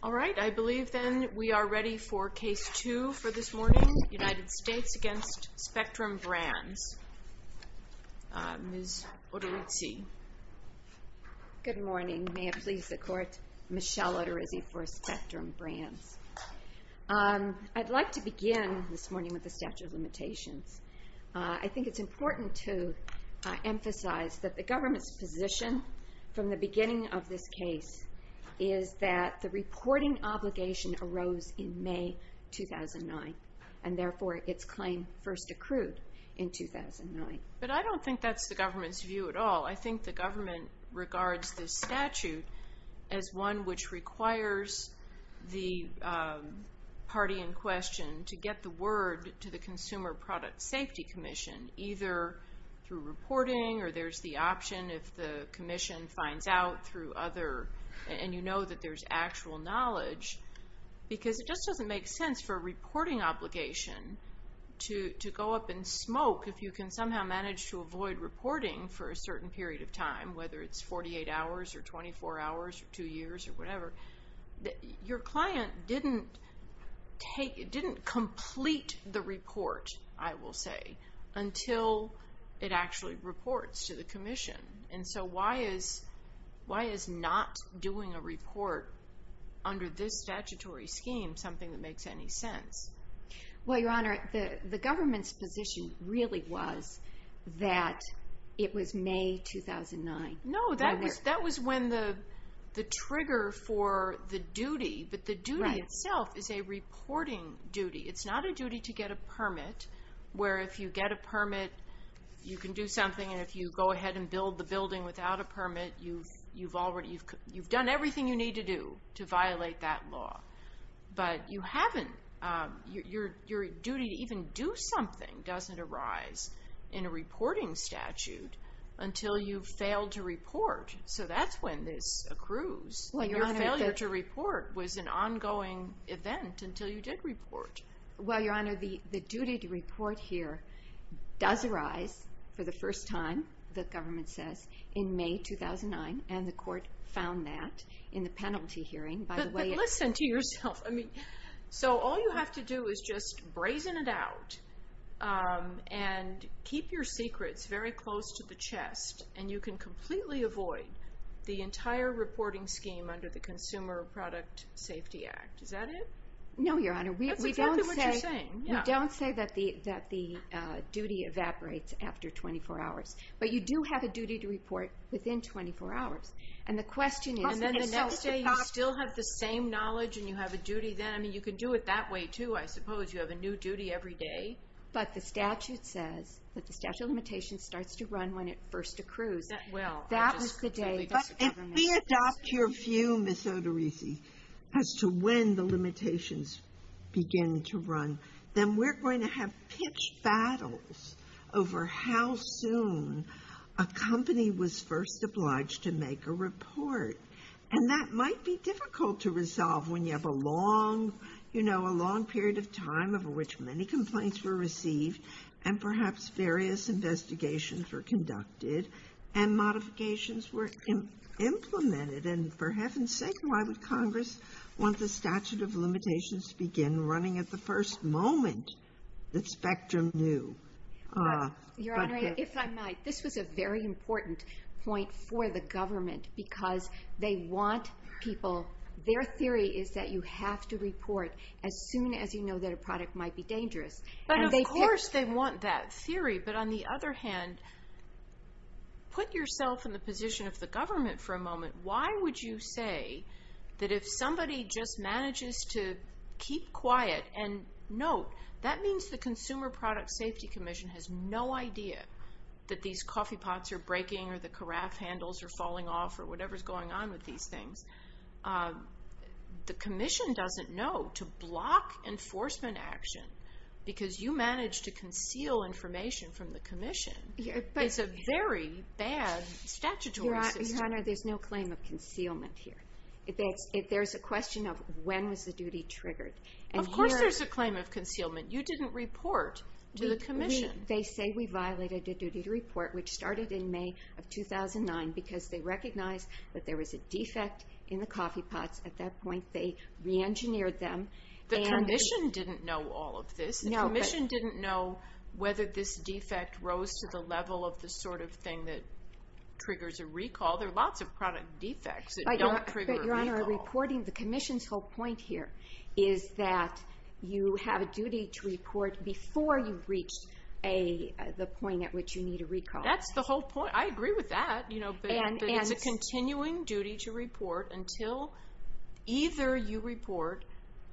Alright, I believe then we are ready for Case 2 for this morning. United States v. Spectrum Brands, Ms. Odorizzi. Good morning. May it please the Court, Michelle Odorizzi for Spectrum Brands. I'd like to begin this morning with the statute of limitations. I think it's important to emphasize that the government's position from the beginning of this case is that the reporting obligation arose in May 2009, and therefore its claim first accrued in 2009. But I don't think that's the government's view at all. I think the government regards this statute as one which requires the party in question to get the word to the Consumer Product Safety Commission, either through reporting or there's the option if the Commission finds out through other, and you know that there's actual knowledge. Because it just doesn't make sense for a reporting obligation to go up in smoke if you can somehow manage to avoid reporting for a certain period of time, whether it's 48 hours or 24 hours or two years or whatever. Your client didn't complete the report, I will say, until it actually reports to the Commission. And so why is not doing a report under this statutory scheme something that makes any sense? Well, Your Honor, the government's position really was that it was May 2009. No, that was when the trigger for the duty, but the duty itself is a reporting duty. It's not a duty to get a permit where if you get a permit, you can do something, and if you go ahead and build the building without a permit, you've done everything you need to do to violate that law. But your duty to even do something doesn't arise in a reporting statute until you've failed to report, so that's when this accrues. Your failure to report was an ongoing event until you did report. Well, Your Honor, the duty to report here does arise for the first time, the government says, in May 2009, and the Court found that in the penalty hearing. But listen to yourself. So all you have to do is just brazen it out and keep your secrets very close to the chest, and you can completely avoid the entire reporting scheme under the Consumer Product Safety Act. Is that it? No, Your Honor. That's exactly what you're saying. We don't say that the duty evaporates after 24 hours, but you do have a duty to report within 24 hours. And then the next day, you still have the same knowledge, and you have a duty then. I mean, you can do it that way, too. I suppose you have a new duty every day. But the statute says that the statute of limitations starts to run when it first accrues. Well, I just completely disagree. If we adopt your view, Ms. Odorisi, as to when the limitations begin to run, then we're going to have pitched battles over how soon a company was first obliged to make a report. And that might be difficult to resolve when you have a long, you know, a long period of time over which many complaints were received and perhaps various investigations were conducted and modifications were implemented. And for heaven's sake, why would Congress want the statute of limitations to begin running at the first moment the spectrum knew? Your Honor, if I might, this was a very important point for the government because they want people, their theory is that you have to report as soon as you know that a product might be dangerous. But of course they want that theory. But on the other hand, put yourself in the position of the government for a moment. Why would you say that if somebody just manages to keep quiet and note, that means the Consumer Product Safety Commission has no idea that these coffee pots are breaking or the carafe handles are falling off or whatever's going on with these things. The commission doesn't know to block enforcement action because you managed to conceal information from the commission. It's a very bad statutory system. Your Honor, there's no claim of concealment here. There's a question of when was the duty triggered. Of course there's a claim of concealment. You didn't report to the commission. They say we violated a duty to report, which started in May of 2009, because they recognized that there was a defect in the coffee pots. At that point, they reengineered them. The commission didn't know all of this. The commission didn't know whether this defect rose to the level of the sort of thing that triggers a recall. There are lots of product defects that don't trigger a recall. Your Honor, the commission's whole point here is that you have a duty to report before you've reached the point at which you need a recall. That's the whole point. I agree with that, but it's a continuing duty to report until either you report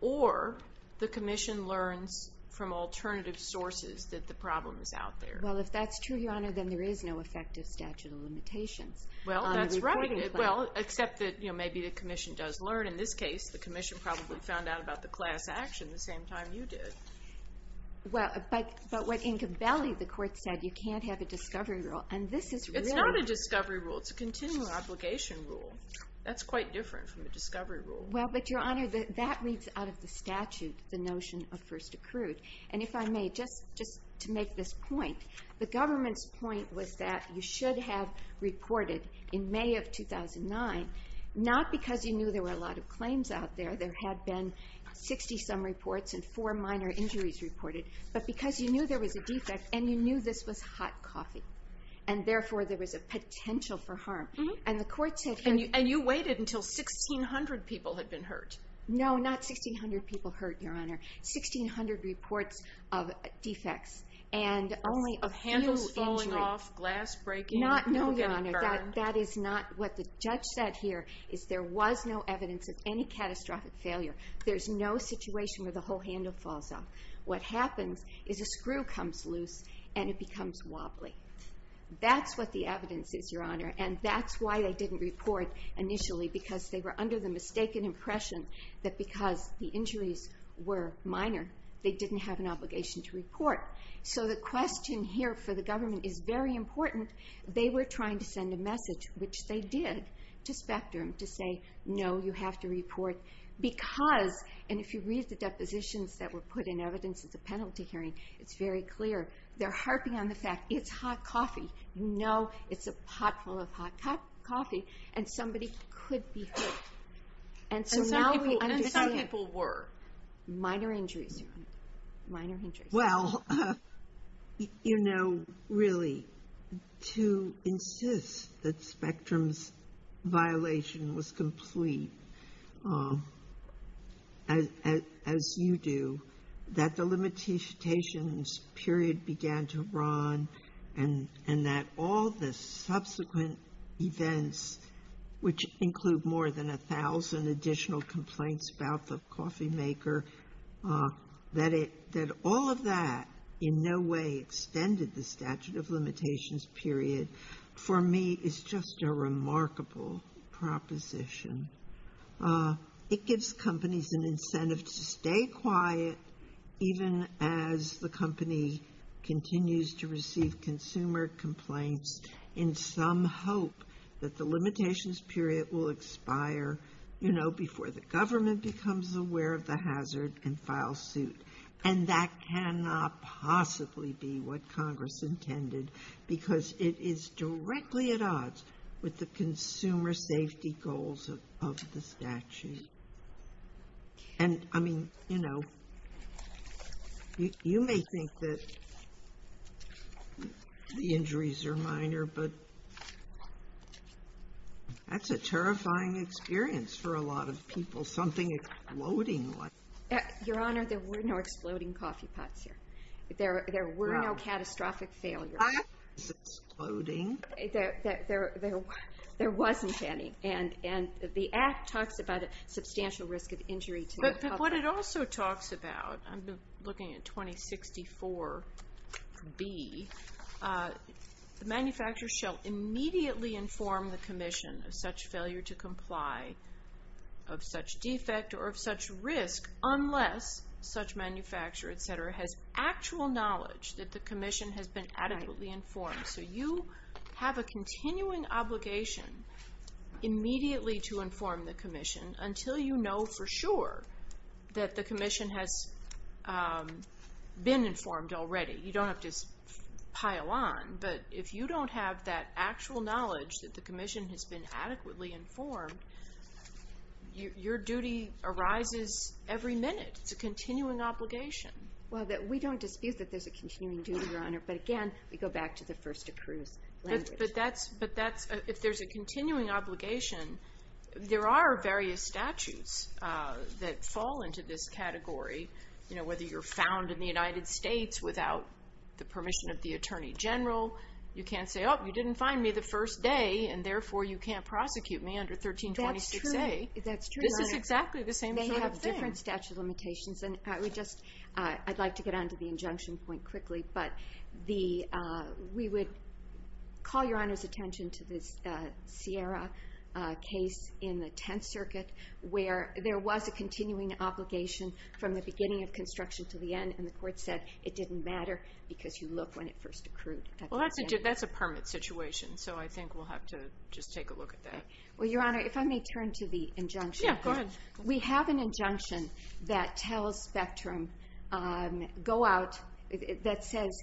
or the commission learns from alternative sources that the problem is out there. Well, if that's true, Your Honor, then there is no effective statute of limitations. Well, that's right. Well, except that maybe the commission does learn. In this case, the commission probably found out about the class action the same time you did. But what Incabelli, the court said, you can't have a discovery rule. It's not a discovery rule. It's a continuing obligation rule. That's quite different from a discovery rule. Well, but, Your Honor, that reads out of the statute, the notion of first accrued. And if I may, just to make this point, the government's point was that you should have reported in May of 2009, not because you knew there were a lot of claims out there. There had been 60-some reports and four minor injuries reported, but because you knew there was a defect and you knew this was hot coffee, and therefore there was a potential for harm. And the court said here. And you waited until 1,600 people had been hurt. No, not 1,600 people hurt, Your Honor. 1,600 reports of defects and only a few injuries. Of handles falling off, glass breaking. No, Your Honor, that is not what the judge said here, is there was no evidence of any catastrophic failure. There's no situation where the whole handle falls off. What happens is a screw comes loose and it becomes wobbly. That's what the evidence is, Your Honor. And that's why they didn't report initially, because they were under the mistaken impression that because the injuries were minor, they didn't have an obligation to report. So the question here for the government is very important. They were trying to send a message, which they did, to Spectrum to say, no, you have to report because, and if you read the depositions that were put in evidence at the penalty hearing, it's very clear. They're harping on the fact it's hot coffee. You know it's a pot full of hot coffee, and somebody could be hurt. And some people were. Minor injuries, Your Honor, minor injuries. Well, you know, really, to insist that Spectrum's violation was complete, as you do, that the limitations period began to run, and that all the subsequent events, which include more than 1,000 additional complaints about the coffee maker, that all of that in no way extended the statute of limitations period, for me is just a remarkable proposition. It gives companies an incentive to stay quiet, even as the company continues to receive consumer complaints, in some hope that the limitations period will expire, you know, before the government becomes aware of the hazard and files suit. And that cannot possibly be what Congress intended, because it is directly at odds with the consumer safety goals of the statute. And, I mean, you know, you may think that the injuries are minor, but that's a terrifying experience for a lot of people, something exploding like that. Your Honor, there were no exploding coffee pots here. There were no catastrophic failures. Exploding? There wasn't any. And the Act talks about a substantial risk of injury to the coffee maker. But what it also talks about, I'm looking at 2064B, the manufacturer shall immediately inform the commission of such failure to comply, of such defect, or of such risk, unless such manufacturer, et cetera, has actual knowledge that the commission has been adequately informed. So you have a continuing obligation immediately to inform the commission until you know for sure that the commission has been informed already. You don't have to pile on. But if you don't have that actual knowledge that the commission has been adequately informed, your duty arises every minute. It's a continuing obligation. Well, we don't dispute that there's a continuing duty, Your Honor. But again, we go back to the first accrues language. But if there's a continuing obligation, there are various statutes that fall into this category, whether you're found in the United States without the permission of the Attorney General. You can't say, oh, you didn't find me the first day, and therefore you can't prosecute me under 1326A. That's true. They have different statute of limitations. I'd like to get on to the injunction point quickly. But we would call Your Honor's attention to this Sierra case in the Tenth Circuit where there was a continuing obligation from the beginning of construction to the end, and the court said it didn't matter because you look when it first accrued. Well, that's a permit situation, so I think we'll have to just take a look at that. Well, Your Honor, if I may turn to the injunction. Yeah, go ahead. We have an injunction that tells Spectrum, go out, that says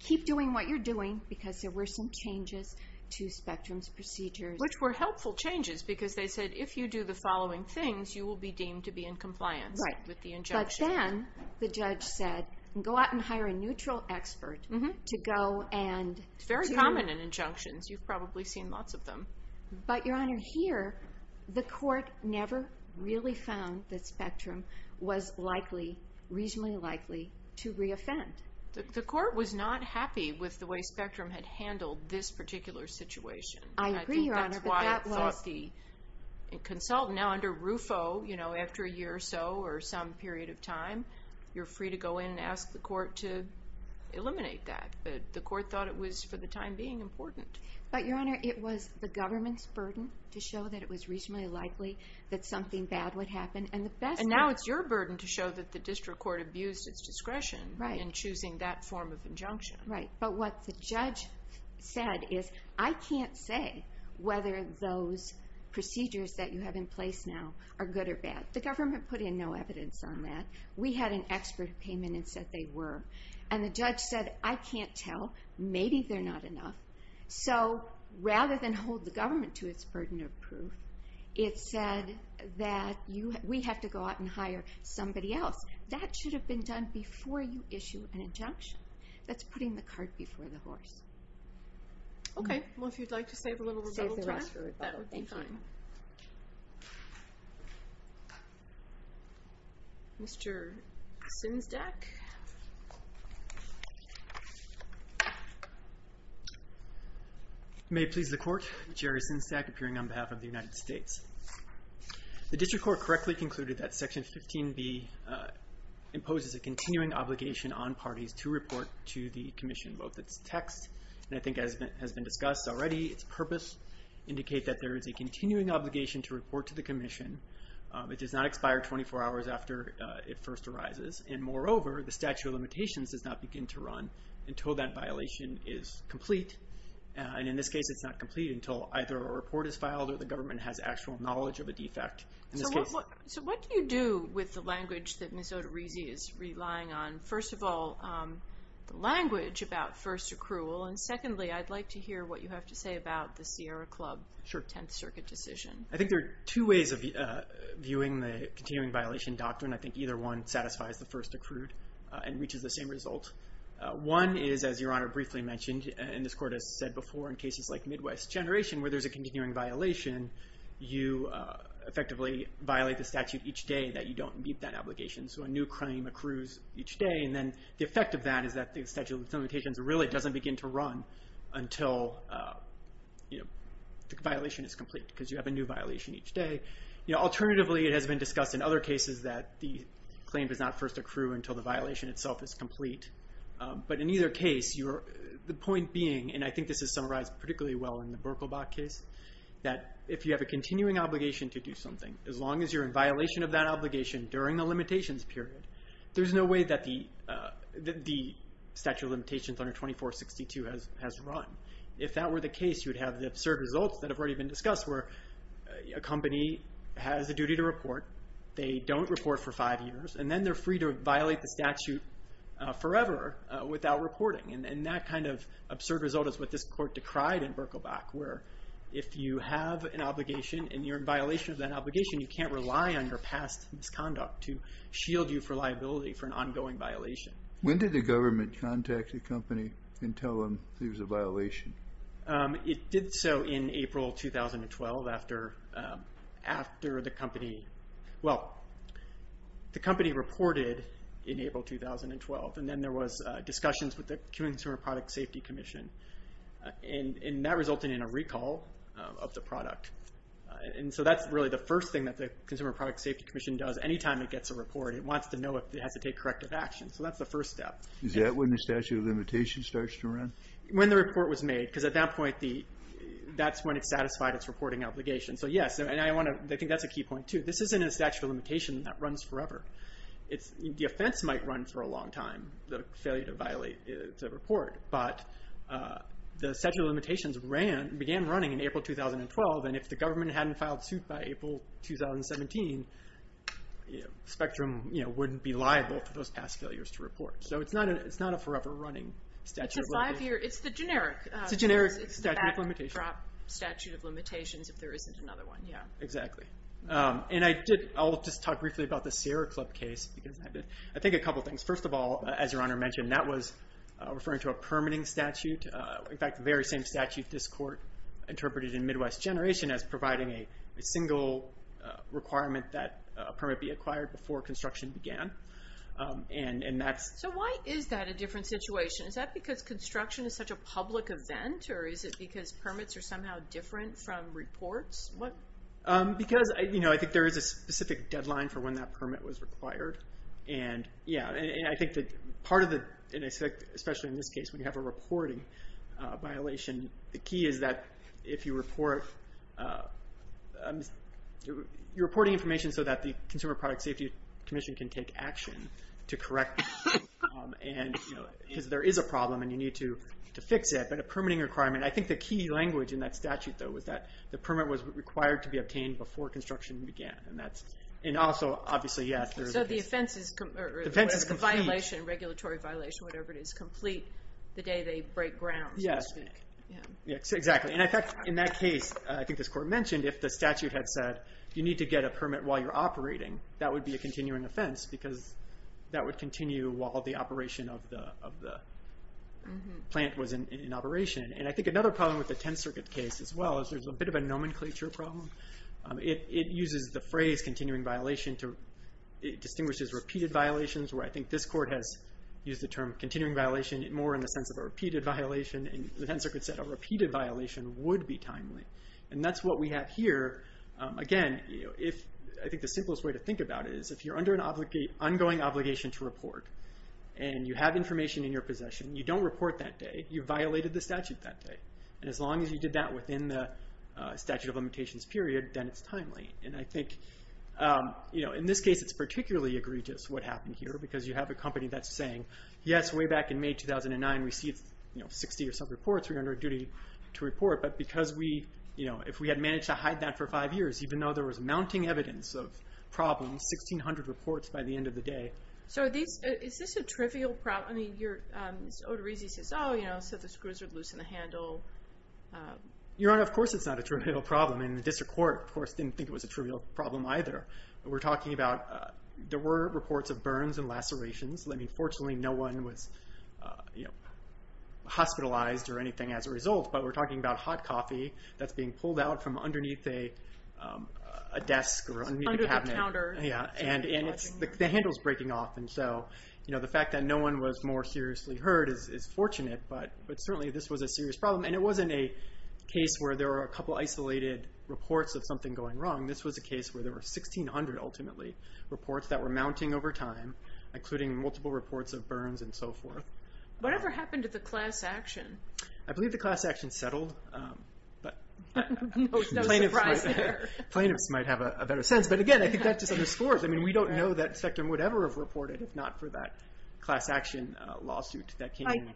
keep doing what you're doing because there were some changes to Spectrum's procedures. Which were helpful changes because they said if you do the following things, you will be deemed to be in compliance with the injunction. Right. But then the judge said, go out and hire a neutral expert to go and to... It's very common in injunctions. You've probably seen lots of them. But, Your Honor, here the court never really found that Spectrum was likely, reasonably likely, to re-offend. The court was not happy with the way Spectrum had handled this particular situation. I agree, Your Honor, but that was... I think that's why it thought the consultant, now under RUFO, you know, after a year or so or some period of time, you're free to go in and ask the court to eliminate that. But the court thought it was, for the time being, important. But, Your Honor, it was the government's burden to show that it was reasonably likely that something bad would happen. And now it's your burden to show that the district court abused its discretion in choosing that form of injunction. Right. But what the judge said is, I can't say whether those procedures that you have in place now are good or bad. The government put in no evidence on that. We had an expert who came in and said they were. And the judge said, I can't tell. Maybe they're not enough. So, rather than hold the government to its burden of proof, it said that we have to go out and hire somebody else. That should have been done before you issue an injunction. That's putting the cart before the horse. Okay. Well, if you'd like to save a little rebuttal time... Save the rest for rebuttal. Thank you. That would be fine. Mr. Simsdack? May it please the court, Jerry Simsdack, appearing on behalf of the United States. The district court correctly concluded that Section 15B imposes a continuing obligation on parties to report to the commission both its text, and I think as has been discussed already, its purpose indicate that there is a continuing obligation to report to the commission. It does not expire 24 hours after it first arises. And moreover, the statute of limitations does not begin to run until that violation is complete. And in this case, it's not complete until either a report is filed or the government has actual knowledge of a defect. So, what do you do with the language that Ms. Oterizzi is relying on? First of all, the language about first accrual. And secondly, I'd like to hear what you have to say about the Sierra Club 10th Circuit decision. I think there are two ways of viewing the continuing violation doctrine. I think either one satisfies the first accrued and reaches the same result. One is, as Your Honor briefly mentioned, and this court has said before in cases like Midwest Generation where there's a continuing violation, you effectively violate the statute each day that you don't meet that obligation. So a new crime accrues each day. And then the effect of that is that the statute of limitations really doesn't begin to run until the violation is complete because you have a new violation each day. Alternatively, it has been discussed in other cases that the claim does not first accrue until the violation itself is complete. But in either case, the point being, and I think this is summarized particularly well in the Berkelbach case, that if you have a continuing obligation to do something, as long as you're in violation of that obligation during the limitations period, there's no way that the statute of limitations under 2462 has run. If that were the case, you would have the absurd results that have already been discussed where a company has a duty to report, they don't report for five years, and then they're free to violate the statute forever without reporting. And that kind of absurd result is what this court decried in Berkelbach where if you have an obligation and you're in violation of that obligation, you can't rely on your past misconduct to shield you from liability for an ongoing violation. When did the government contact the company and tell them there was a violation? It did so in April 2012 after the company, well, the company reported in April 2012. And then there was discussions with the Consumer Product Safety Commission. And that resulted in a recall of the product. And so that's really the first thing that the Consumer Product Safety Commission does any time it gets a report. It wants to know if it has to take corrective action. So that's the first step. Is that when the statute of limitations starts to run? When the report was made. Because at that point, that's when it's satisfied its reporting obligation. So yes, and I think that's a key point too. This isn't a statute of limitation that runs forever. The offense might run for a long time, the failure to violate the report. But the statute of limitations began running in April 2012. And if the government hadn't filed suit by April 2017, Spectrum wouldn't be liable for those past failures to report. So it's not a forever running statute. It's the generic statute of limitations if there isn't another one. Exactly. And I'll just talk briefly about the Sierra Club case. I think a couple things. First of all, as Your Honor mentioned, that was referring to a permitting statute. In fact, the very same statute this court interpreted in Midwest Generation as providing a single requirement that a permit be acquired before construction began. So why is that a different situation? Is that because construction is such a public event, or is it because permits are somehow different from reports? Because I think there is a specific deadline for when that permit was required. And I think that part of the, especially in this case, when you have a reporting violation, the key is that if you report, you're reporting information so that the Consumer Product Safety Commission can take action to correct it. Because there is a problem and you need to fix it. But a permitting requirement, I think the key language in that statute, though, was that the permit was required to be obtained before construction began. And also, obviously, yes, there is a case. So the offense is complete. The violation, regulatory violation, whatever it is, is complete the day they break ground, so to speak. Yes, exactly. And in fact, in that case, I think this court mentioned, if the statute had said you need to get a permit while you're operating, that would be a continuing offense because that would continue while the operation of the plant was in operation. And I think another problem with the Tenth Circuit case as well is there's a bit of a nomenclature problem. It uses the phrase continuing violation to distinguish as repeated violations, where I think this court has used the term continuing violation more in the sense of a repeated violation. And the Tenth Circuit said a repeated violation would be timely. And that's what we have here. Again, I think the simplest way to think about it is if you're under an ongoing obligation to report and you have information in your possession, you don't report that day, you violated the statute that day. And as long as you did that within the statute of limitations period, then it's timely. And I think in this case it's particularly egregious what happened here because you have a company that's saying, yes, way back in May 2009 we received 60 or so reports. We're under a duty to report. But if we had managed to hide that for five years, even though there was mounting evidence of problems, 1,600 reports by the end of the day. So is this a trivial problem? I mean, Otorizzi says, oh, so the screws are loose in the handle. Your Honor, of course it's not a trivial problem. And the district court, of course, didn't think it was a trivial problem either. We're talking about there were reports of burns and lacerations. Fortunately no one was hospitalized or anything as a result. But we're talking about hot coffee that's being pulled out from underneath a desk or underneath a cabinet. Under the counter. Yeah, and the handle's breaking off. And so the fact that no one was more seriously hurt is fortunate. But certainly this was a serious problem. And it wasn't a case where there were a couple isolated reports of something going wrong. This was a case where there were 1,600 ultimately reports that were mounting over time, including multiple reports of burns and so forth. Whatever happened to the class action? I believe the class action settled. No surprise there. Plaintiffs might have a better sense. But again, I think that just underscores. I mean, we don't know that Spectrum would ever have reported if not for that class action lawsuit that came in.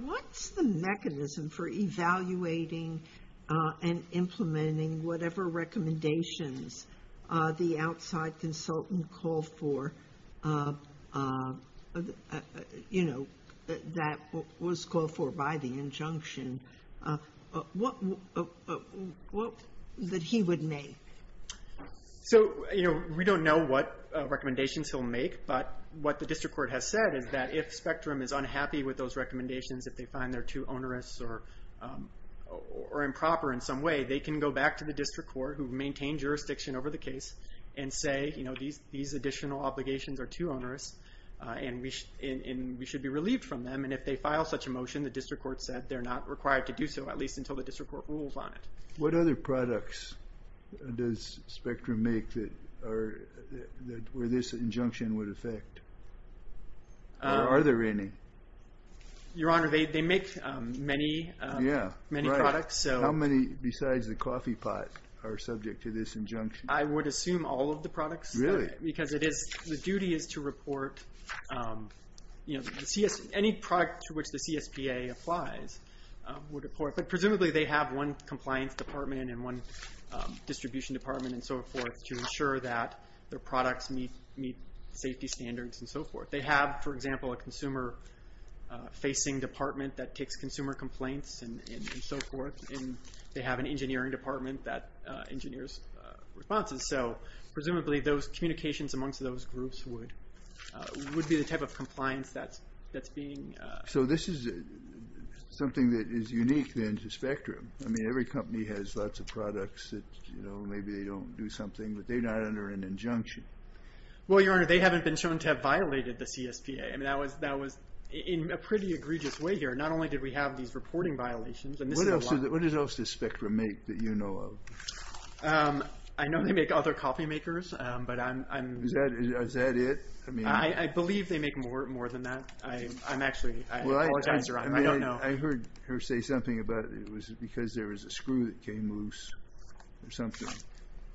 What's the mechanism for evaluating and implementing whatever recommendations the outside consultant called for that was called for by the injunction? What would he make? So we don't know what recommendations he'll make. But what the district court has said is that if Spectrum is unhappy with those recommendations, if they find they're too onerous or improper in some way, they can go back to the district court, who maintained jurisdiction over the case, and say these additional obligations are too onerous and we should be relieved from them. And if they file such a motion, the district court said they're not required to do so, at least until the district court rules on it. What other products does Spectrum make where this injunction would affect? Or are there any? Your Honor, they make many products. How many besides the coffee pot are subject to this injunction? I would assume all of the products. Really? Because the duty is to report any product to which the CSPA applies. But presumably they have one compliance department and one distribution department and so forth to ensure that their products meet safety standards and so forth. They have, for example, a consumer-facing department that takes consumer complaints and so forth. And they have an engineering department that engineers responses. So presumably those communications amongst those groups would be the type of compliance that's being... So this is something that is unique then to Spectrum. I mean, every company has lots of products that, you know, maybe they don't do something, but they're not under an injunction. Well, Your Honor, they haven't been shown to have violated the CSPA. I mean, that was in a pretty egregious way here. Not only did we have these reporting violations, and this is a lot. What else does Spectrum make that you know of? I know they make other coffee makers, but I'm... Is that it? I believe they make more than that. I'm actually... I apologize, Your Honor, I don't know. I heard her say something about it was because there was a screw that came loose or something.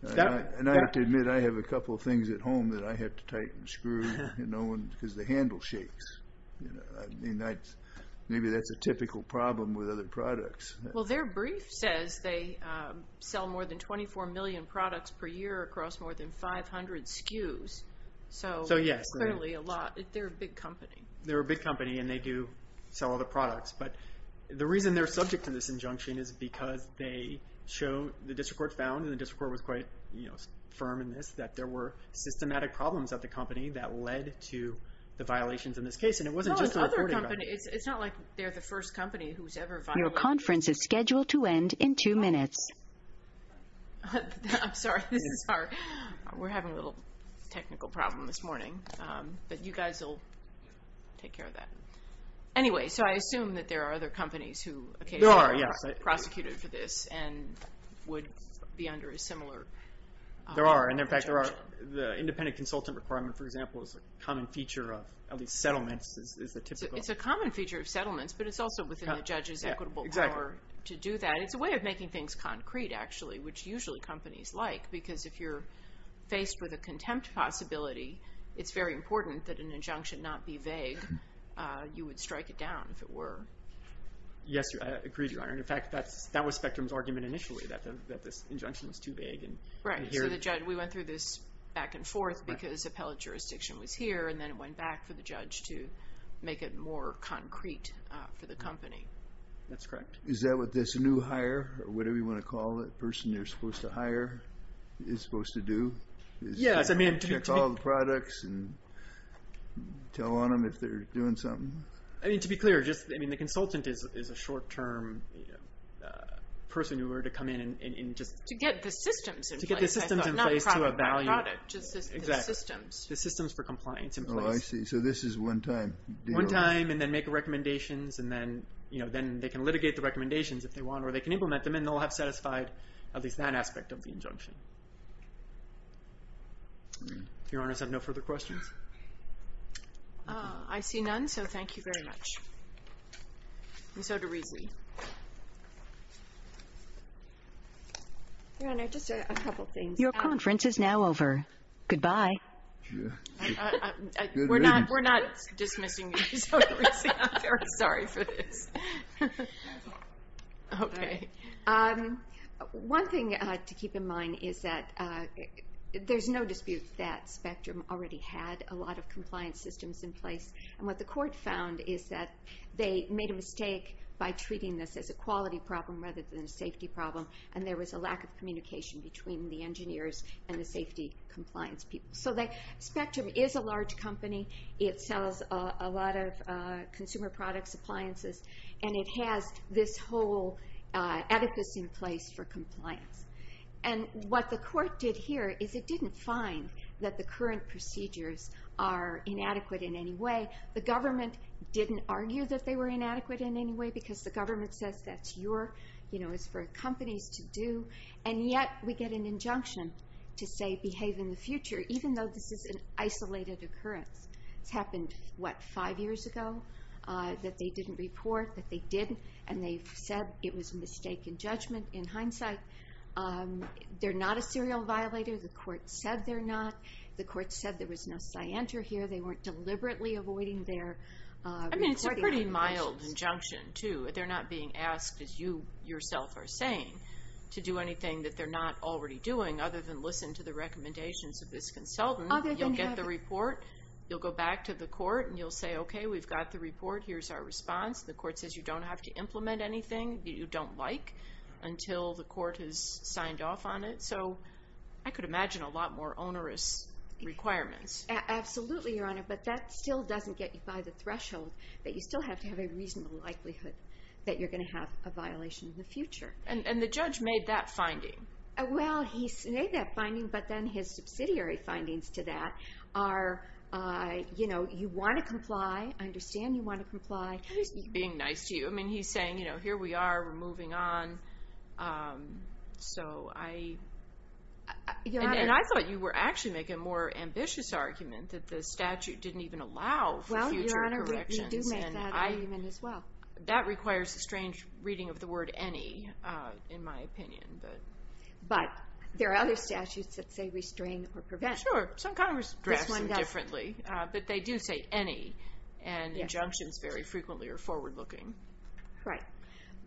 And I have to admit, I have a couple of things at home that I have to tighten screws, you know, because the handle shakes. I mean, maybe that's a typical problem with other products. Well, their brief says they sell more than 24 million products per year across more than 500 SKUs. So clearly a lot. They're a big company. They're a big company, and they do sell other products. But the reason they're subject to this injunction is because they show... The district court found, and the district court was quite firm in this, that there were systematic problems at the company that led to the violations in this case. And it wasn't just the reporting... No, it's other companies. It's not like they're the first company who's ever violated... Your conference is scheduled to end in two minutes. I'm sorry, this is our... We're having a little technical problem this morning. But you guys will take care of that. Anyway, so I assume that there are other companies who occasionally... There are, yes. ...are prosecuted for this and would be under a similar... There are, and in fact, there are. The independent consultant requirement, for example, is a common feature of at least settlements. It's a common feature of settlements, but it's also within the judge's equitable power to do that. It's a way of making things concrete, actually, which usually companies like. Because if you're faced with a contempt possibility, it's very important that an injunction not be vague. You would strike it down, if it were. Yes, I agree, Your Honor. In fact, that was Spectrum's argument initially, that this injunction was too vague. Right, so the judge... We went through this back and forth because appellate jurisdiction was here, and then it went back for the judge to make it more concrete for the company. That's correct. Is that what this new hire, or whatever you want to call that person you're supposed to hire, is supposed to do? Yes, I mean... Check all the products and tell on them if they're doing something? To be clear, the consultant is a short-term person who were to come in and just... To get the systems in place. To get the systems in place to a value. Not just the systems. The systems for compliance in place. Oh, I see. So this is one time. One time, and then make recommendations, and then they can litigate the recommendations if they want, or they can implement them, and they'll have satisfied at least that aspect of the injunction. Your Honor, does that have no further questions? I see none, so thank you very much. And so do we. Your Honor, just a couple things. Your conference is now over. Goodbye. We're not dismissing you. I'm sorry for this. Okay. One thing to keep in mind is that there's no dispute that Spectrum already had a lot of compliance systems in place, and what the court found is that they made a mistake by treating this as a quality problem rather than a safety problem, and there was a lack of communication between the engineers and the safety compliance people. So Spectrum is a large company. It sells a lot of consumer products, appliances, and it has this whole oedipus in place for compliance. And what the court did here is it didn't find that the current procedures are inadequate in any way. The government didn't argue that they were inadequate in any way because the government says that's your, you know, it's for companies to do, and yet we get an injunction to say behave in the future, even though this is an isolated occurrence. It's happened, what, five years ago that they didn't report, that they did, and they said it was a mistake in judgment. In hindsight, they're not a serial violator. The court said they're not. The court said there was no scienter here. They weren't deliberately avoiding their reporting obligations. They're not being asked, as you yourself are saying, to do anything that they're not already doing, other than listen to the recommendations of this consultant. You'll get the report. You'll go back to the court, and you'll say, okay, we've got the report. Here's our response. The court says you don't have to implement anything that you don't like until the court has signed off on it. So I could imagine a lot more onerous requirements. Absolutely, Your Honor, but that still doesn't get you by the threshold that you still have to have a reasonable likelihood that you're going to have a violation in the future. And the judge made that finding. Well, he made that finding, but then his subsidiary findings to that are, you know, you want to comply. I understand you want to comply. He's being nice to you. I mean, he's saying, you know, here we are. We're moving on. So I... And I thought you were actually making a more ambitious argument that the statute didn't even allow for future corrections. Well, Your Honor, we do make that argument as well. That requires a strange reading of the word any, in my opinion. But there are other statutes that say restrain or prevent. Sure. Some Congress drafts them differently. But they do say any, and injunctions very frequently are forward-looking. Right.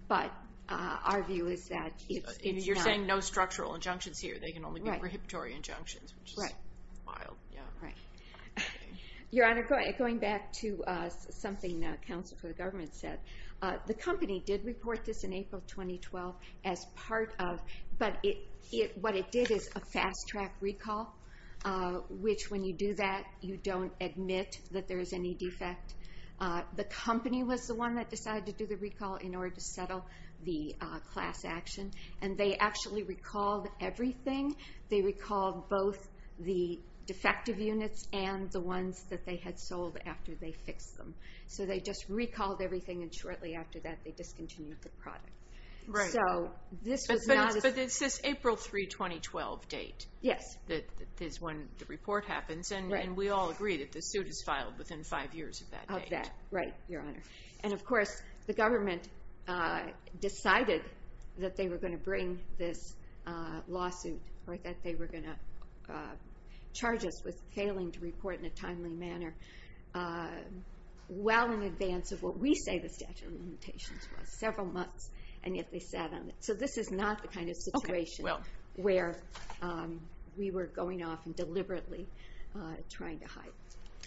But our view is that it's not... You're saying no structural injunctions here. They can only be prohibitory injunctions, which is wild. Right. Your Honor, going back to something the counsel for the government said, the company did report this in April 2012 as part of... But what it did is a fast-track recall, which when you do that, you don't admit that there is any defect. The company was the one that decided to do the recall in order to settle the class action. And they actually recalled everything. They recalled both the defective units and the ones that they had sold after they fixed them. So they just recalled everything, and shortly after that they discontinued the product. Right. So this was not... But it's this April 3, 2012 date. Yes. That is when the report happens, and we all agree that the suit is filed within five years of that date. Of that, right, Your Honor. And, of course, the government decided that they were going to bring this lawsuit, or that they were going to charge us with failing to report in a timely manner well in advance of what we say the statute of limitations was, several months, and yet they sat on it. So this is not the kind of situation... Okay, well... ...where we were going off and deliberately trying to hide.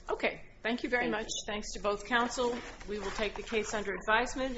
Okay, thank you very much. Thanks to both counsel. We will take the case under advisement.